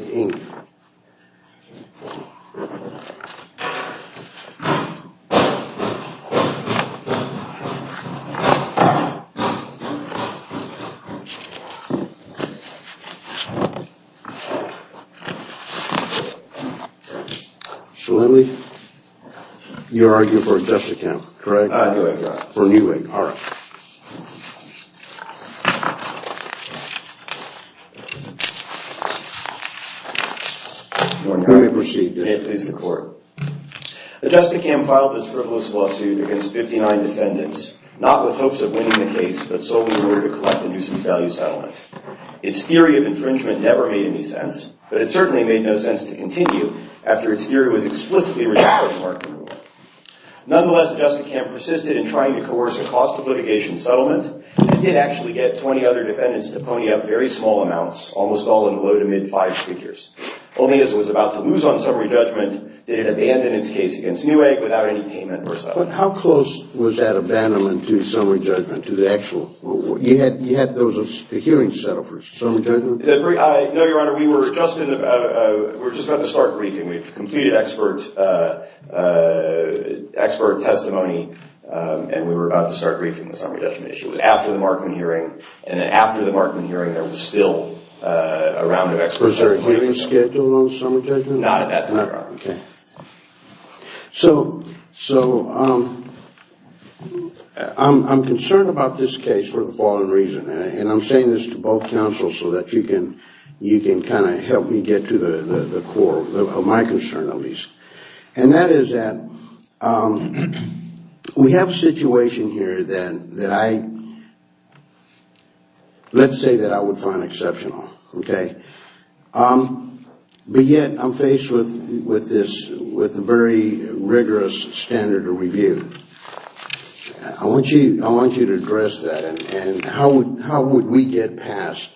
Absolutely, you're arguing for a Justicam, correct, for Newegg, all right. Let me proceed. May it please the court. The Justicam filed this frivolous lawsuit against 59 defendants, not with hopes of winning the case, but solely in order to collect a nuisance value settlement. Its theory of infringement never made any sense, but it certainly made no sense to continue after its theory was explicitly rejected. Nonetheless, the Justicam persisted in trying to coerce a cost of litigation settlement. It did actually get 20 other defendants to pony up very small amounts, almost all in the low to mid five figures. Only as it was about to lose on summary judgment, did it abandon its case against Newegg without any payment or settlement. How close was that abandonment to summary judgment, to the actual? You had those hearings settled for summary judgment? No, Your Honor, we were just about to start briefing. We've completed expert testimony, and we were about to start briefing on the summary judgment issue. It was after the Markman hearing, and then after the Markman hearing, there was still a round of expert testimony. Was there a hearing scheduled on the summary judgment? Not at that time, Your Honor. Okay. So I'm concerned about this case for the following reason, and I'm saying this to both counsels so that you can kind of help me get to the core. My concern, at least. And that is that we have a situation here that I, let's say that I would find exceptional. Okay. But yet I'm faced with this, with a very rigorous standard of review. I want you to address that, and how would we get past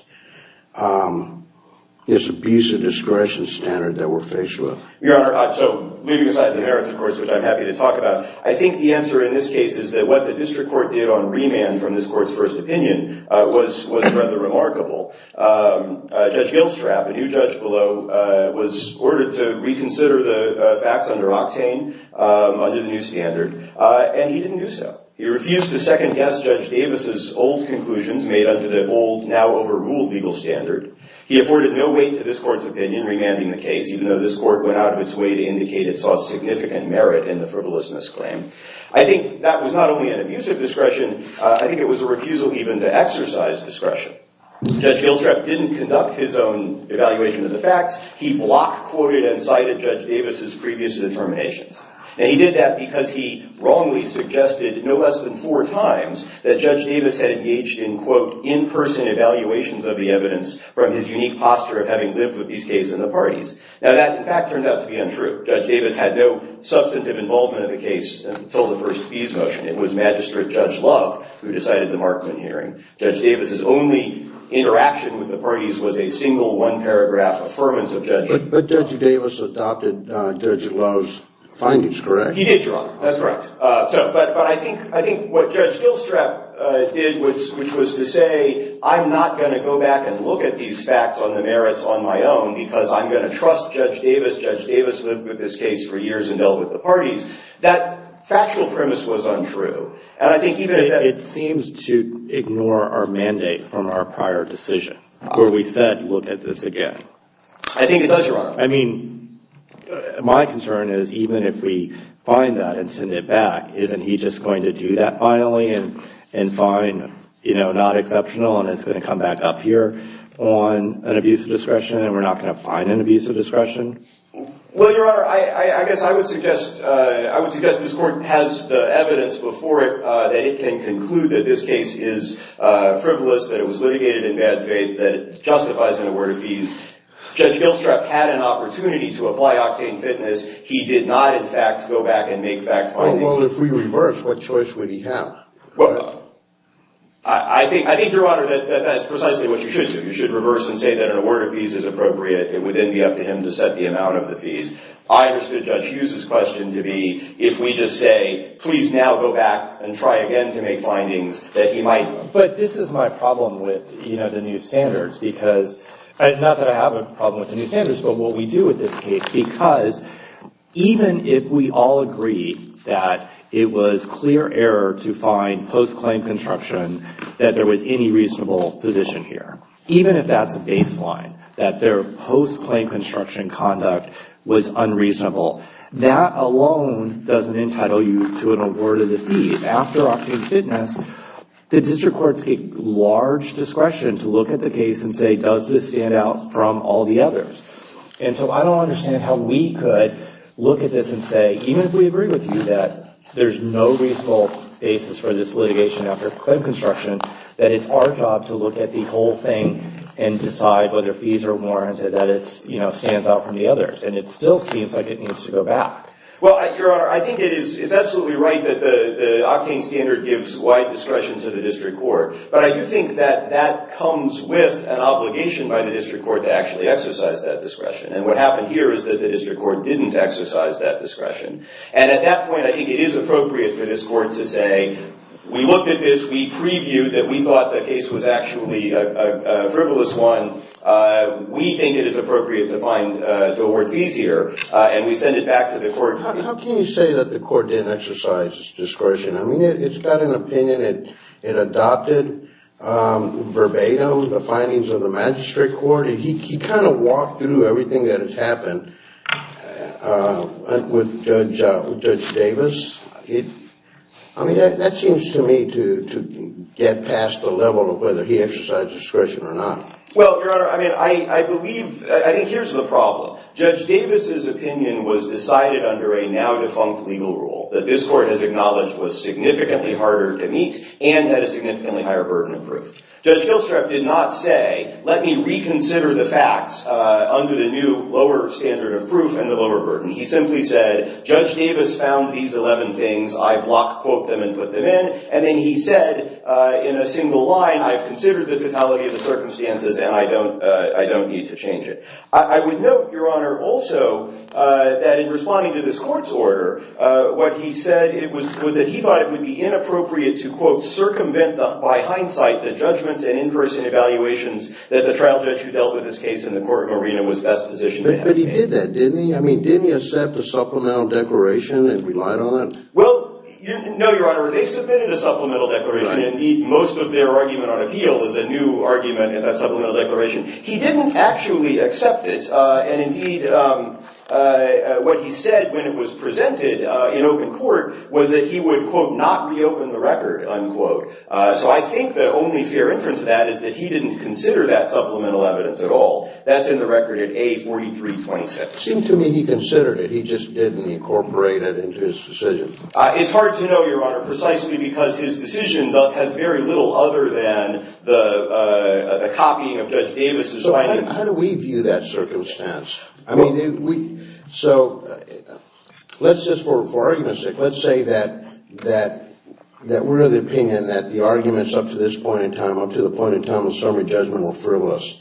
this abuse of discretion standard that we're faced with? Your Honor, so leaving aside the merits, of course, which I'm happy to talk about, I think the answer in this case is that what the district court did on remand from this court's first opinion was rather remarkable. Judge Gilstrap, a new judge below, was ordered to reconsider the facts under Octane, under the new standard, and he didn't do so. He refused to second-guess Judge Davis's old conclusions made under the old, now overruled legal standard. He afforded no weight to this court's opinion remanding the case, even though this court went out of its way to indicate it saw significant merit in the frivolousness claim. I think that was not only an abuse of discretion, I think it was a refusal even to exercise discretion. Judge Gilstrap didn't conduct his own evaluation of the facts. He block-quoted and cited Judge Davis's previous determinations. And he did that because he wrongly suggested no less than four times that Judge Davis had engaged in, quote, in-person evaluations of the evidence from his unique posture of having lived with these cases in the parties. Now that, in fact, turned out to be untrue. Judge Davis had no substantive involvement in the case until the first fees motion. It was Magistrate Judge Love who decided the Markman hearing. Judge Davis's only interaction with the parties was a single one-paragraph affirmance of Judge Love. But Judge Davis adopted Judge Love's findings, correct? He did, Your Honor. That's correct. But I think what Judge Gilstrap did, which was to say, I'm not going to go back and look at these facts on the merits on my own because I'm going to trust Judge Davis. Judge Davis lived with this case for years and dealt with the parties. That factual premise was untrue. And I think even if it seems to ignore our mandate from our prior decision where we said, look at this again. I think it does, Your Honor. I mean, my concern is even if we find that and send it back, isn't he just going to do that finally and find, you know, not exceptional and it's going to come back up here on an abuse of discretion and we're not going to find an abuse of discretion? Well, Your Honor, I guess I would suggest this court has the evidence before it that it can conclude that this case is frivolous, that it was litigated in bad faith, that it justifies an award of fees. Judge Gilstrap had an opportunity to apply octane fitness. He did not, in fact, go back and make fact findings. Well, if we reverse, what choice would he have? Well, I think, Your Honor, that that's precisely what you should do. You should reverse and say that an award of fees is appropriate. It would then be up to him to set the amount of the fees. I understood Judge Hughes' question to be if we just say, please now go back and try again to make findings, that he might. But this is my problem with, you know, the new standards, because not that I have a problem with the new standards, but what we do with this case, because even if we all agree that it was clear error to find post-claim construction, that there was any reasonable position here, even if that's a baseline, that their post-claim construction conduct was unreasonable, that alone doesn't entitle you to an award of the fees. After octane fitness, the district courts get large discretion to look at the case and say, does this stand out from all the others? And so I don't understand how we could look at this and say, even if we agree with you that there's no reasonable basis for this litigation after claim construction, that it's our job to look at the whole thing and decide whether fees are warranted, that it stands out from the others. And it still seems like it needs to go back. Well, Your Honor, I think it's absolutely right that the octane standard gives wide discretion to the district court. But I do think that that comes with an obligation by the district court to actually exercise that discretion. And what happened here is that the district court didn't exercise that discretion. And at that point, I think it is appropriate for this court to say, we looked at this. We previewed that we thought the case was actually a frivolous one. We think it is appropriate to award fees here. And we send it back to the court. How can you say that the court didn't exercise discretion? I mean, it's got an opinion. It adopted verbatim the findings of the magistrate court. He kind of walked through everything that has happened with Judge Davis. I mean, that seems to me to get past the level of whether he exercised discretion or not. Well, Your Honor, I think here's the problem. Judge Davis's opinion was decided under a now defunct legal rule that this court has acknowledged was significantly harder to meet and had a significantly higher burden of proof. Judge Gilstrap did not say, let me reconsider the facts under the new lower standard of proof and the lower burden. He simply said, Judge Davis found these 11 things. I block quote them and put them in. And then he said in a single line, I've considered the totality of the circumstances and I don't need to change it. I would note, Your Honor, also that in responding to this court's order, what he said was that he thought it would be inappropriate to quote circumvent, by hindsight, the judgments and in-person evaluations that the trial judge who dealt with this case in the court arena was best positioned to have. But he did that, didn't he? I mean, didn't he accept the supplemental declaration and relied on it? Well, no, Your Honor. They submitted a supplemental declaration. Indeed, most of their argument on appeal is a new argument in that supplemental declaration. He didn't actually accept it. And indeed, what he said when it was presented in open court was that he would, quote, not reopen the record, unquote. So I think the only fair inference of that is that he didn't consider that supplemental evidence at all. That's in the record at A4326. It seemed to me he considered it. He just didn't incorporate it into his decision. It's hard to know, Your Honor, precisely because his decision has very little other than the copying of Judge Davis' findings. How do we view that circumstance? I mean, so let's just, for argument's sake, let's say that we're of the opinion that the arguments up to this point in time, up to the point in time of summary judgment, were frivolous.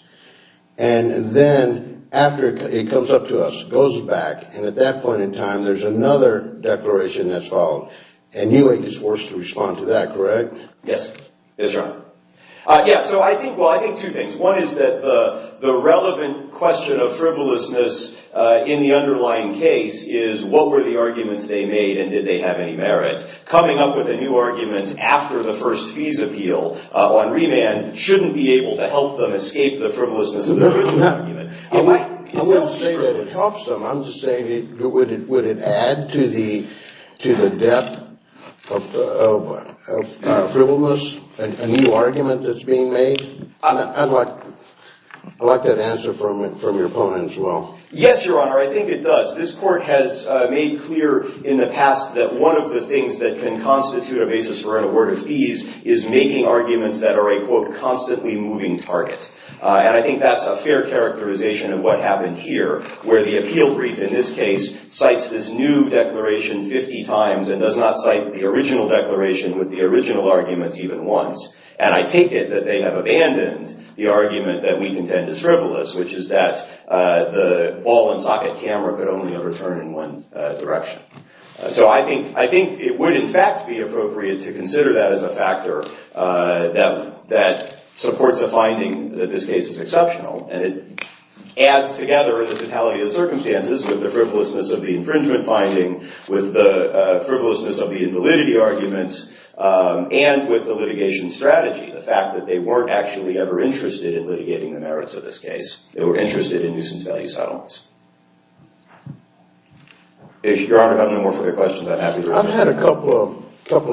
And then after it comes up to us, goes back, and at that point in time, there's another declaration that's followed. And you were just forced to respond to that, correct? Yes. Yes, Your Honor. Yeah, so I think, well, I think two things. One is that the relevant question of frivolousness in the underlying case is what were the arguments they made and did they have any merit. Coming up with a new argument after the first fees appeal on remand shouldn't be able to help them escape the frivolousness of the original argument. I'm not saying that it helps them. I'm just saying would it add to the depth of frivolous, a new argument that's being made? I'd like that answer from your opponent as well. Yes, Your Honor. I think it does. This court has made clear in the past that one of the things that can constitute a basis for an award of fees is making arguments that are a, quote, constantly moving target. And I think that's a fair characterization of what happened here where the appeal brief, in this case, cites this new declaration 50 times and does not cite the original declaration with the original arguments even once. And I take it that they have abandoned the argument that we contend is frivolous, which is that the ball and socket camera could only overturn in one direction. So I think it would, in fact, be appropriate to consider that as a factor that supports a finding that this case is exceptional. And it adds together the totality of the circumstances with the frivolousness of the infringement finding, with the frivolousness of the invalidity arguments, and with the litigation strategy, the fact that they weren't actually ever interested in litigating the merits of this case. They were interested in nuisance value settlements. If Your Honor has no more further questions, I'm happy to respond. I've had a couple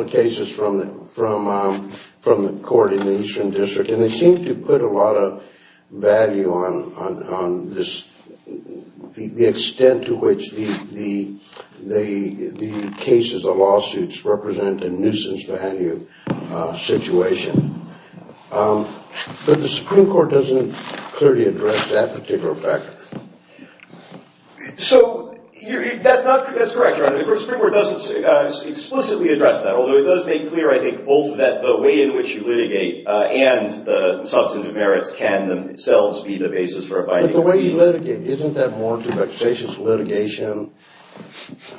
of cases from the court in the Eastern District, and they seem to put a lot of value on the extent to which the cases or lawsuits represent a nuisance value situation. But the Supreme Court doesn't clearly address that particular factor. So that's correct, Your Honor. The Supreme Court doesn't explicitly address that, although it does make clear, I think, both that the way in which you litigate and the substantive merits can themselves be the basis for a finding. But the way you litigate, isn't that more to vexatious litigation?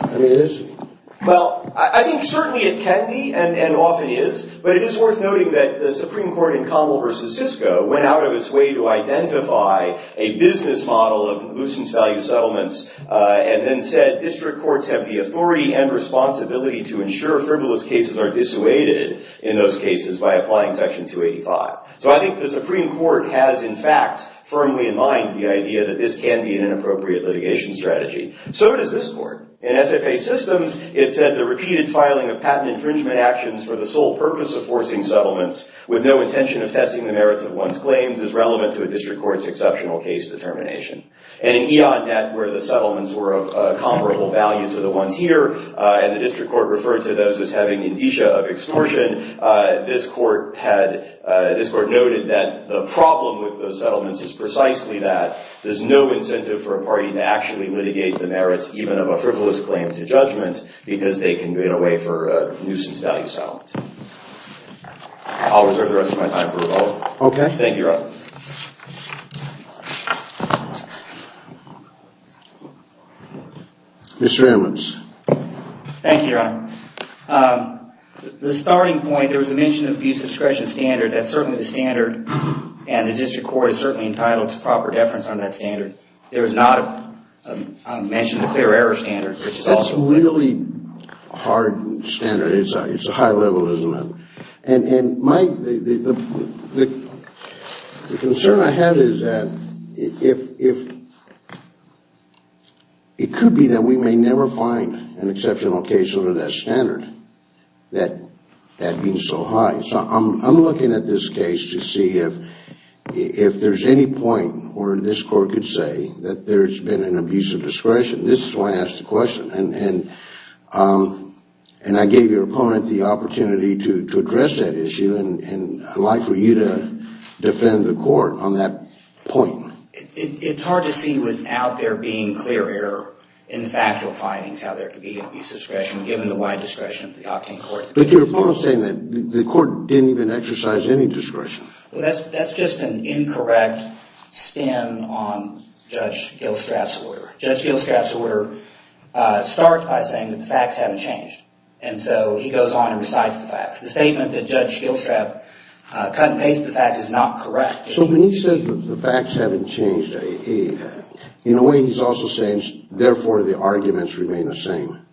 I mean, is it? Well, I think certainly it can be and often is. But it is worth noting that the Supreme Court in Conwell v. Cisco went out of its way to identify a business model of nuisance value settlements and then said district courts have the authority and responsibility to ensure frivolous cases are dissuaded in those cases by applying Section 285. So I think the Supreme Court has, in fact, firmly in mind the idea that this can be an inappropriate litigation strategy. So does this court. In FFA systems, it said the repeated filing of patent infringement actions for the sole purpose of forcing settlements with no intention of testing the merits of one's claims is relevant to a district court's exceptional case determination. And in E.O.N. Net, where the settlements were of comparable value to the ones here, and the district court referred to those as having indicia of extortion, this court noted that the problem with those settlements is precisely that there's no incentive for a party to actually litigate the merits, even of a frivolous claim to judgment, because they can get away for a nuisance value settlement. I'll reserve the rest of my time for Revo. Okay. Thank you, Rob. Mr. Ammons. Thank you, Your Honor. The starting point, there was a mention of abuse discretion standard. That's certainly the standard, and the district court is certainly entitled to proper deference on that standard. There is not a mention of the clear error standard, which is also. That's a really hard standard. It's a high level as a matter. And, Mike, the concern I have is that it could be that we may never find an exceptional case under that standard, that being so high. So I'm looking at this case to see if there's any point where this court could say that there's been an abuse of discretion. This is why I asked the question. And I gave your opponent the opportunity to address that issue, and I'd like for you to defend the court on that point. It's hard to see without there being clear error in the factual findings how there could be abuse of discretion, given the wide discretion of the Octane Court. But your opponent is saying that the court didn't even exercise any discretion. Well, that's just an incorrect spin on Judge Gilstrap's order. Judge Gilstrap's order starts by saying that the facts haven't changed. And so he goes on and recites the facts. The statement that Judge Gilstrap cut and pasted the facts is not correct. So when he says that the facts haven't changed, in a way he's also saying, therefore, the arguments remain the same.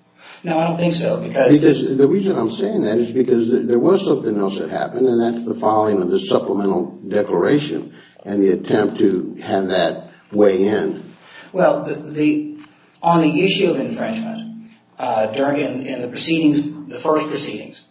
No, I don't think so. The reason I'm saying that is because there was something else that happened, and that's the following of the supplemental declaration and the attempt to have that weigh in. Well, on the issue of infringement, in the proceedings, the first proceedings,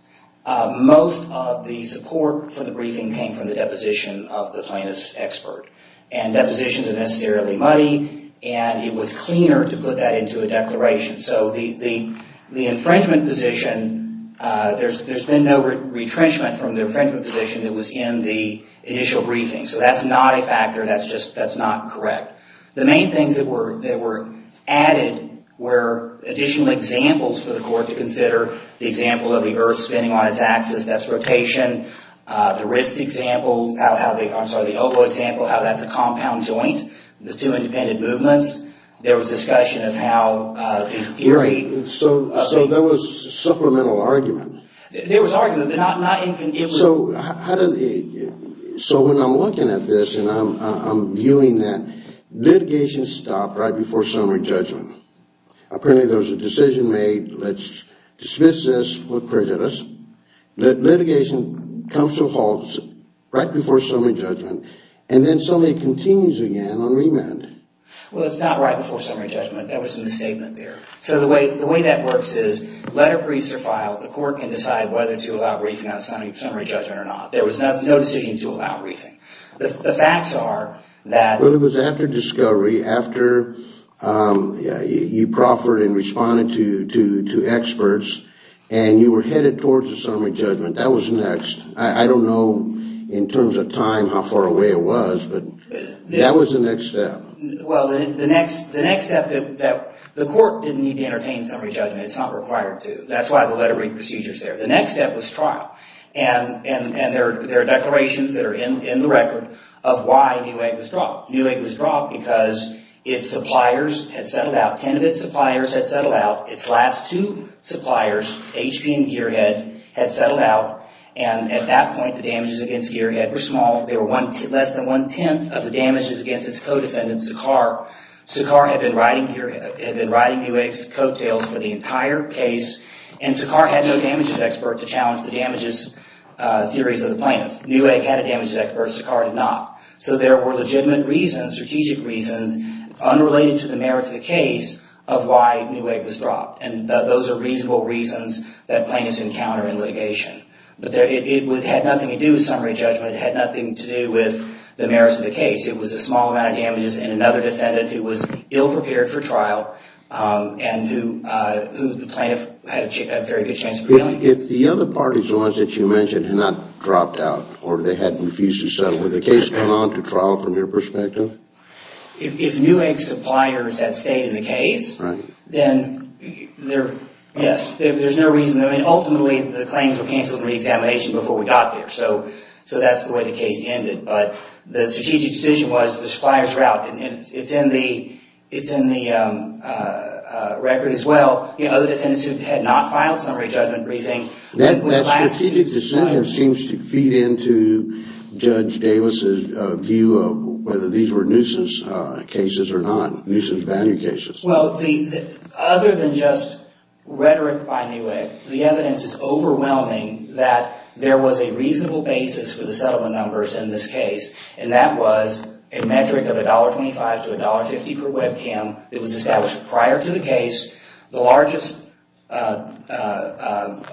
most of the support for the briefing came from the deposition of the plaintiff's expert. And depositions are necessarily muddy, and it was cleaner to put that into a declaration. So the infringement position, there's been no retrenchment from the infringement position that was in the initial briefing. So that's not a factor. That's just not correct. The main things that were added were additional examples for the court to consider. The example of the earth spinning on its axis, that's rotation. The wrist example, I'm sorry, the elbow example, how that's a compound joint. The two independent movements. There was discussion of how the theory. So there was supplemental argument. There was argument, but not inconclusive. So when I'm looking at this and I'm viewing that, litigation stopped right before summary judgment. Apparently there was a decision made, let's dismiss this for prejudice. Litigation comes to a halt right before summary judgment, and then suddenly it continues again on remand. Well, it's not right before summary judgment. That was in the statement there. So the way that works is letter briefs are filed. The court can decide whether to allow briefing on summary judgment or not. There was no decision to allow briefing. The facts are that. Well, it was after discovery, after you proffered and responded to experts, and you were headed towards a summary judgment. That was next. I don't know in terms of time how far away it was, but that was the next step. Well, the next step, the court didn't need to entertain summary judgment. It's not required to. That's why the letter brief procedure is there. The next step was trial. And there are declarations that are in the record of why Newegg was dropped. Newegg was dropped because its suppliers had settled out. Ten of its suppliers had settled out. Its last two suppliers, HP and Gearhead, had settled out. And at that point, the damages against Gearhead were small. They were less than one-tenth of the damages against its co-defendant, Sakhar. Sakhar had been riding Newegg's coattails for the entire case, and Sakhar had no damages expert to challenge the damages theories of the plaintiff. Newegg had a damages expert. Sakhar did not. So there were legitimate reasons, strategic reasons, unrelated to the merits of the case of why Newegg was dropped. And those are reasonable reasons that plaintiffs encounter in litigation. But it had nothing to do with summary judgment. It had nothing to do with the merits of the case. It was a small amount of damages and another defendant who was ill-prepared for trial and who the plaintiff had a very good chance of failing. If the other parties, the ones that you mentioned, had not dropped out or they had refused to settle, would the case go on to trial from your perspective? If Newegg's suppliers had stayed in the case, then, yes, there's no reason. Ultimately, the claims were canceled in re-examination before we got there. So that's the way the case ended. But the strategic decision was the supplier's route. And it's in the record as well. Other defendants who had not filed summary judgment briefing would last to the trial. That strategic decision seems to feed into Judge Davis's view of whether these were nuisance cases or not, nuisance value cases. Well, other than just rhetoric by Newegg, the evidence is overwhelming that there was a reasonable basis for the settlement numbers in this case. And that was a metric of $1.25 to $1.50 per webcam. It was established prior to the case. The largest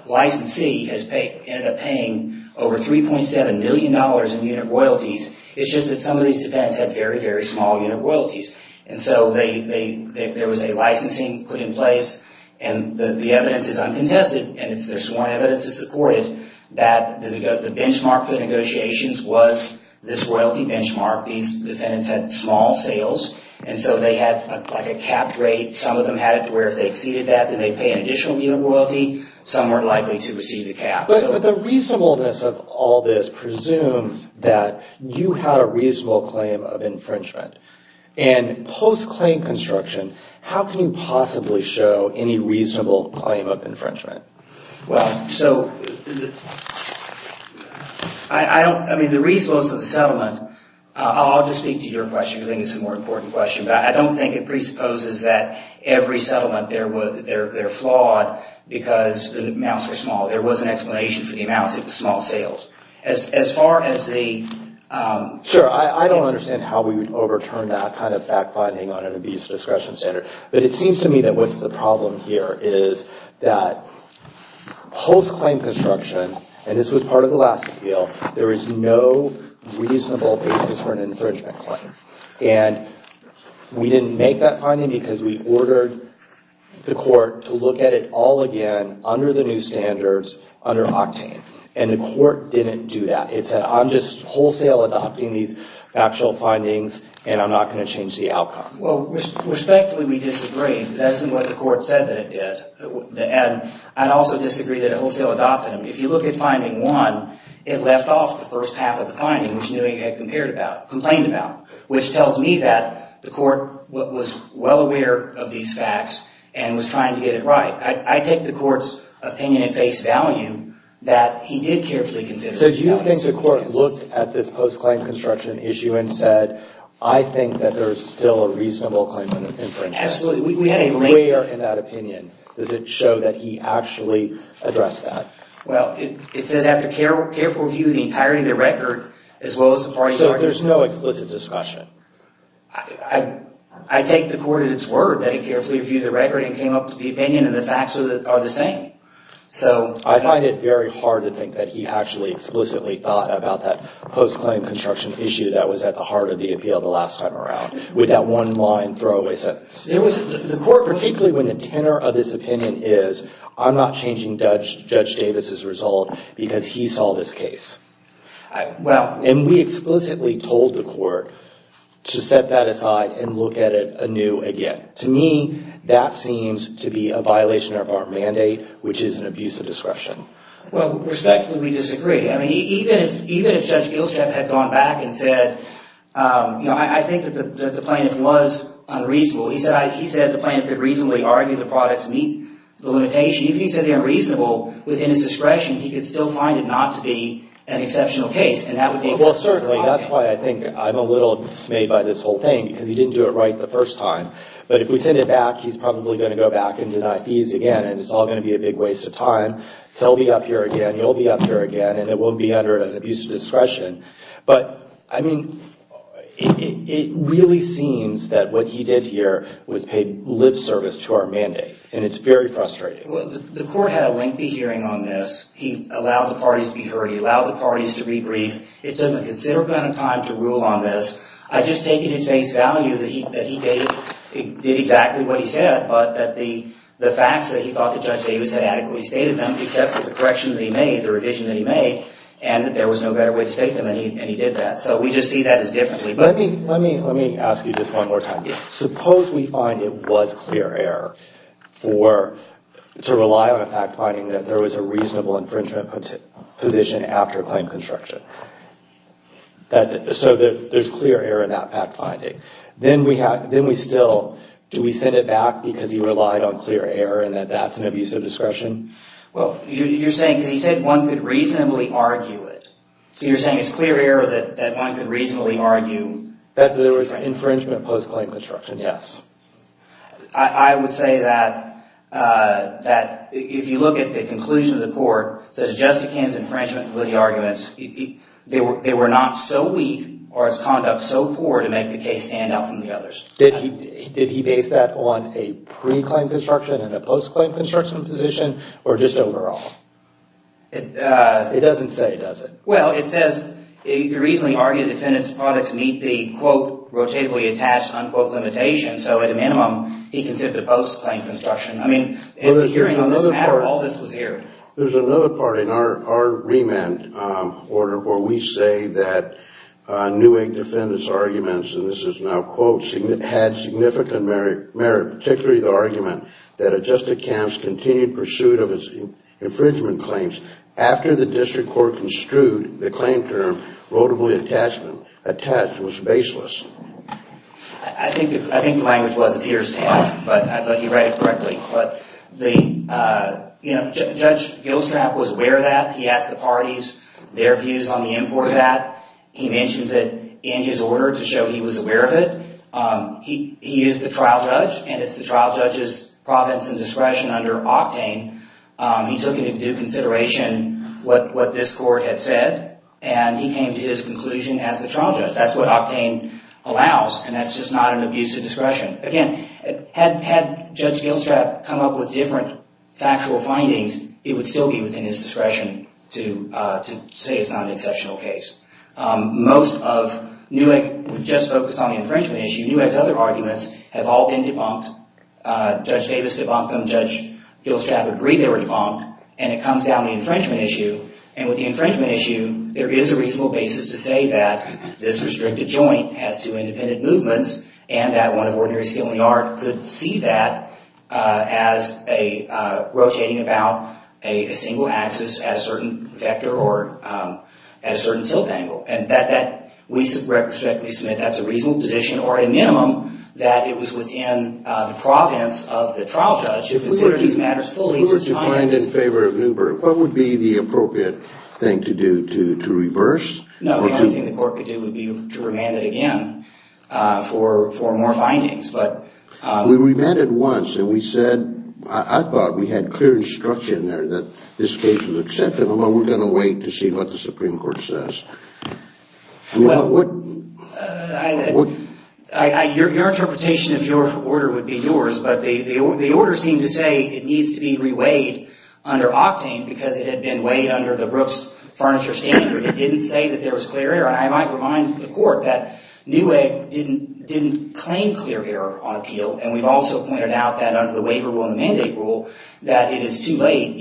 licensee ended up paying over $3.7 million in unit royalties. It's just that some of these defendants had very, very small unit royalties. And so there was a licensing put in place. And the evidence is uncontested. And there's sworn evidence to support it that the benchmark for negotiations was this royalty benchmark. These defendants had small sales. And so they had a capped rate. Some of them had it to where if they exceeded that, then they'd pay an additional unit of royalty. Some were likely to receive the cap. But the reasonableness of all this presumes that you had a reasonable claim of infringement. And post-claim construction, how can you possibly show any reasonable claim of infringement? Well, so, I mean, the reasonableness of the settlement, I'll just speak to your question because I think it's a more important question. But I don't think it presupposes that every settlement, they're flawed because the amounts were small. There was an explanation for the amounts of the small sales. As far as the... Sure. I don't understand how we would overturn that kind of fact-finding on an abuse of discretion standard. But it seems to me that what's the problem here is that post-claim construction, and this was part of the last appeal, there is no reasonable basis for an infringement claim. And we didn't make that finding because we ordered the court to look at it all again under the new standards, under Octane. And the court didn't do that. It said, I'm just wholesale adopting these factual findings, and I'm not going to change the outcome. Well, respectfully, we disagree. That isn't what the court said that it did. And I'd also disagree that it wholesale adopted them. If you look at finding one, it left off the first half of the finding, which knew it had complained about, which tells me that the court was well aware of these facts and was trying to get it right. I take the court's opinion at face value that he did carefully consider... So do you think the court looked at this post-claim construction issue and said, I think that there's still a reasonable claim for infringement? Absolutely. Where in that opinion does it show that he actually addressed that? Well, it says after careful review of the entirety of the record, as well as the parties... So there's no explicit discussion? I take the court at its word that it carefully reviewed the record and came up with the opinion, and the facts are the same. So... I find it very hard to think that he actually explicitly thought about that post-claim construction issue that was at the heart of the appeal the last time around, with that one-line throwaway sentence. The court, particularly when the tenor of this opinion is, I'm not changing Judge Davis's result because he saw this case. Well... And we explicitly told the court to set that aside and look at it anew again. To me, that seems to be a violation of our mandate, which is an abuse of discretion. Well, respectfully, we disagree. I mean, even if Judge Gilstrap had gone back and said, I think that the plaintiff was unreasonable. He said the plaintiff could reasonably argue the products meet the limitation. If he said they're unreasonable within his discretion, he could still find it not to be an exceptional case, and that would be... Well, certainly, that's why I think I'm a little dismayed by this whole thing, because he didn't do it right the first time. But if we send it back, he's probably going to go back and deny fees again, and it's all going to be a big waste of time. He'll be up here again, you'll be up here again, and it won't be under an abuse of discretion. But, I mean, it really seems that what he did here was pay lip service to our mandate, and it's very frustrating. Well, the court had a lengthy hearing on this. He allowed the parties to be heard. He allowed the parties to be briefed. It took him a considerable amount of time to rule on this. I just take it at face value that he did exactly what he said, but that the facts that he thought that Judge Davis had adequately stated them, except for the correction that he made, the revision that he made, and that there was no better way to state them, and he did that. So we just see that as differently. Let me ask you just one more time. Suppose we find it was clear error to rely on a fact finding that there was a reasonable infringement position after claim construction. So there's clear error in that fact finding. Then we still, do we send it back because he relied on clear error, and that that's an abuse of discretion? Well, you're saying, because he said one could reasonably argue it. So you're saying it's clear error that one could reasonably argue? That there was infringement post-claim construction, yes. I would say that if you look at the conclusion of the court, Judge Duquesne's infringement arguments, they were not so weak, or his conduct so poor to make the case stand out from the others. Did he base that on a pre-claim construction and a post-claim construction position? Or just overall? It doesn't say, does it? Well, it says, you could reasonably argue the defendant's products meet the, quote, rotatably attached, unquote, limitation. So at a minimum, he can tip it post-claim construction. I mean, in the hearing on this matter, all this was here. There's another part in our remand order where we say that Neuig defendant's arguments, and this is now quotes, had significant merit, particularly the argument that adjusted camps continued pursuit of his infringement claims after the district court construed the claim term rotably attached was baseless. I think the language was appears to him, but I thought he read it correctly. But Judge Gilstrap was aware of that. He asked the parties their views on the import of that. He mentions it in his order to show he was aware of it. He is the trial judge, and it's the trial judge's province and discretion under Octane. He took into consideration what this court had said, and he came to his conclusion as the trial judge. That's what Octane allows, and that's just not an abuse of discretion. Again, had Judge Gilstrap come up with different factual findings, it would still be within his discretion to say it's not an exceptional case. Most of Neuig, we've just focused on the infringement issue. Neuig's other arguments have all been debunked. Judge Davis debunked them. Judge Gilstrap agreed they were debunked, and it comes down to the infringement issue. And with the infringement issue, there is a reasonable basis to say that this restricted joint has two independent movements, and that one of ordinary skill and art could see that as rotating about a single axis at a certain vector or at a certain tilt angle. And we respectfully submit that's a reasonable position, or a minimum, that it was within the province of the trial judge who considered these matters fully. If we were to find in favor of Neuberg, what would be the appropriate thing to do? To reverse? No, the only thing the court could do would be to remand it again for more findings. We remanded once, and we said, I thought we had clear instruction there that this case was acceptable, and we're going to wait to see what the Supreme Court says. Your interpretation of your order would be yours, but the order seemed to say it needs to be reweighed under octane because it had been weighed under the Brooks Furniture Standard. It didn't say that there was clear error. I might remind the court that Neuberg didn't claim clear error on appeal, and we've also pointed out that under the waiver rule and the mandate rule that it is too late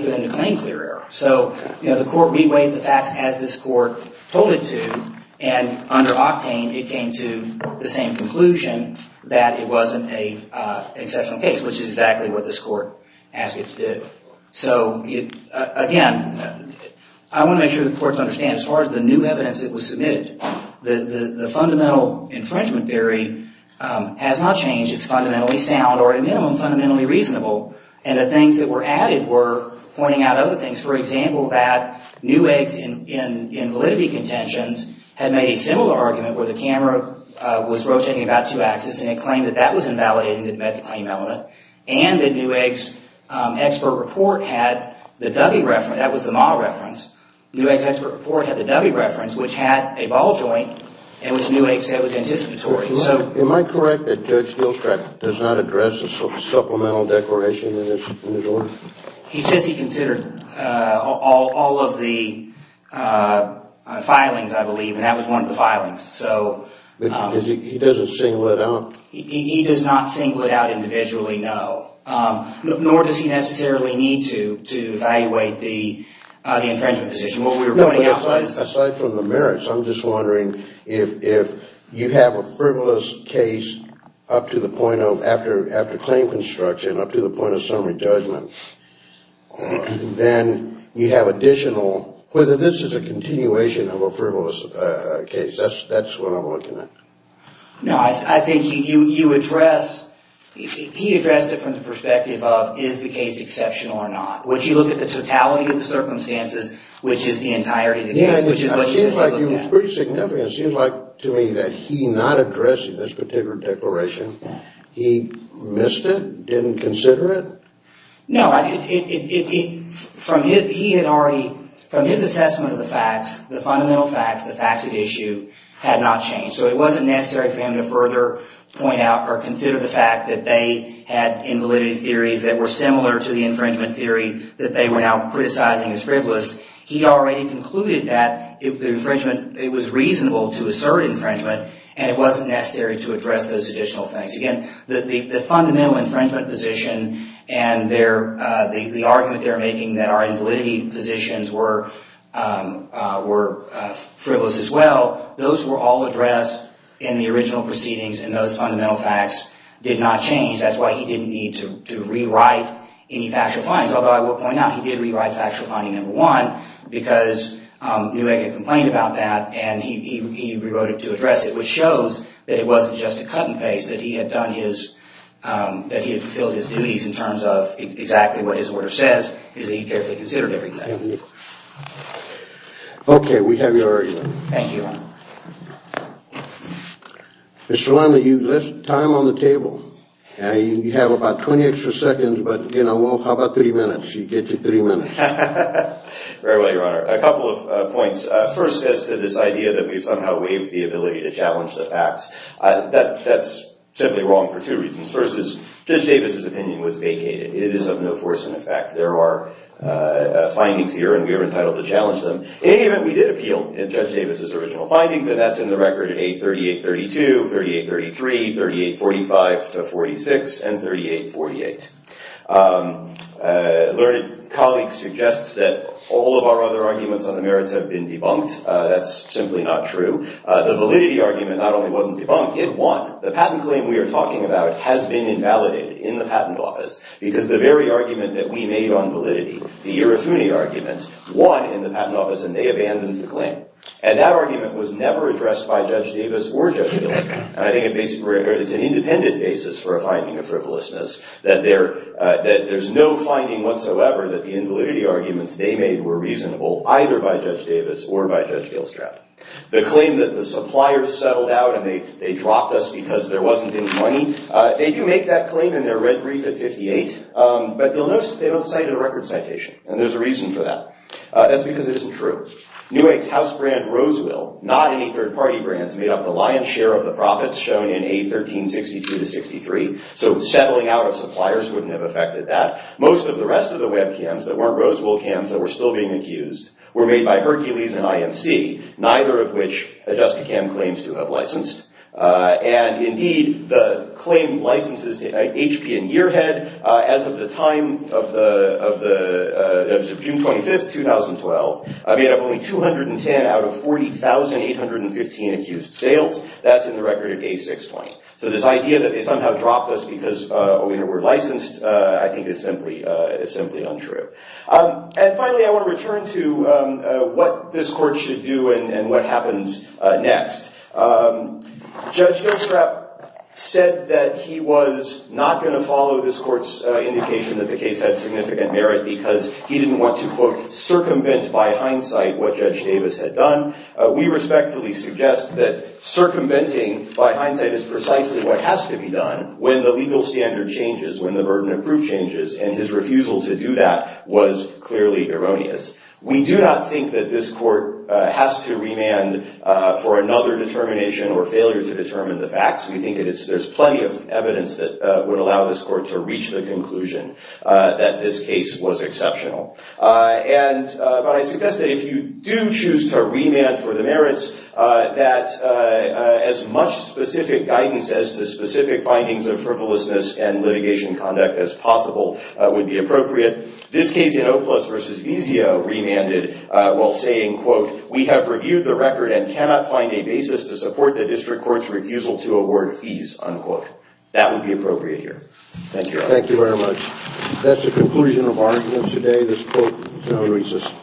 for them to claim clear error. So the court reweighed the facts as this court told it to, and under octane it came to the same conclusion that it wasn't an exceptional case, which is exactly what this court asked it to do. So, again, I want to make sure the courts understand as far as the new evidence that was submitted, the fundamental infringement theory has not changed. It's fundamentally sound or at a minimum fundamentally reasonable, and the things that were added were pointing out other things. For example, that Neuegg's invalidity contentions had made a similar argument where the camera was rotating about two axes and it claimed that that was invalidating the claim element and that Neuegg's expert report had the W reference, that was the Ma reference, Neuegg's expert report had the W reference, which had a ball joint and which Neuegg said was anticipatory. Am I correct that Judge Gilstrap does not address the supplemental declaration in his ruling? He says he considered all of the filings, I believe, and that was one of the filings. But he doesn't single it out? He does not single it out individually, no. Nor does he necessarily need to evaluate the infringement position. Aside from the merits, I'm just wondering if you have a frivolous case up to the point of, after claim construction, up to the point of summary judgment, then you have additional, whether this is a continuation of a frivolous case. That's what I'm looking at. No, I think you address, he addressed it from the perspective of is the case exceptional or not? Would you look at the totality of the circumstances, which is the entirety of the case? Yeah, it seems like it was pretty significant. It seems like to me that he not addressing this particular declaration, he missed it, didn't consider it? No, he had already, from his assessment of the facts, the fundamental facts, the facts at issue, had not changed. So it wasn't necessary for him to further point out or consider the fact that they had invalidity theories that were similar to the infringement theory that they were now criticizing as frivolous. He already concluded that the infringement, it was reasonable to assert infringement and it wasn't necessary to address those additional things. Again, the fundamental infringement position and the argument they're making that our invalidity positions were frivolous as well, those were all addressed in the original proceedings and those fundamental facts did not change. That's why he didn't need to rewrite any factual findings, although I will point out he did rewrite factual finding number one because Newegg had complained about that and he rewrote it to address it, which shows that it wasn't just a cut and paste, that he had done his, that he had fulfilled his duties in terms of exactly what his order says, is that he carefully considered everything. Okay, we have your argument. Thank you. Mr. Lemley, you left time on the table. You have about 20 extra seconds, but, you know, well, how about 30 minutes? You get to 30 minutes. Very well, Your Honor. A couple of points. First, as to this idea that we somehow waived the ability to challenge the facts, that's simply wrong for two reasons. First is Judge Davis' opinion was vacated. It is of no force in effect. There are findings here and we are entitled to challenge them. In any event, we did appeal Judge Davis' original findings and that's in the record at 838-32, 38-33, 38-45 to 46, and 38-48. A learned colleague suggests that all of our other arguments on the merits have been debunked. That's simply not true. The validity argument not only wasn't debunked, it won. The patent claim we are talking about has been invalidated in the Patent Office because the very argument that we made on validity, the Ierofuni argument, won in the Patent Office and they abandoned the claim. And that argument was never addressed by Judge Davis or Judge Gilstraut. I think it's an independent basis for a finding of frivolousness that there's no finding whatsoever that the invalidity arguments they made were reasonable either by Judge Davis or by Judge Gilstraut. The claim that the suppliers settled out and they dropped us because there wasn't any money, they do make that claim in their red brief at 58, but you'll notice they don't cite in the record citation, and there's a reason for that. That's because it isn't true. Newegg's house brand Rosewill, not any third-party brands, made up the lion's share of the profits shown in A1362-63, so settling out of suppliers wouldn't have affected that. Most of the rest of the webcams that weren't Rosewill cams that were still being accused were made by Hercules and IMC, neither of which AdjustaCam claims to have licensed. And indeed, the claim licenses to HP and Yearhead as of the time of June 25, 2012, made up only 210 out of 40,815 accused sales. That's in the record at A620. So this idea that they somehow dropped us because we were licensed I think is simply untrue. And finally, I want to return to what this court should do and what happens next. Judge Gostrap said that he was not going to follow this court's indication that the case had significant merit because he didn't want to, quote, circumvent by hindsight what Judge Davis had done. We respectfully suggest that circumventing by hindsight is precisely what has to be done when the legal standard changes, when the burden of proof changes, and his refusal to do that was clearly erroneous. We do not think that this court has to remand for another determination or failure to determine the facts. We think there's plenty of evidence that would allow this court to reach the conclusion that this case was exceptional. But I suggest that if you do choose to remand for the merits, that as much specific guidance as to specific findings of frivolousness and litigation conduct as possible would be appropriate. This case in Oplus v. Vizio remanded while saying, quote, we have reviewed the record and cannot find a basis to support the district court's refusal to award fees, unquote. That would be appropriate here. Thank you. Thank you very much. That's the conclusion of our evidence today. This court is now recessed.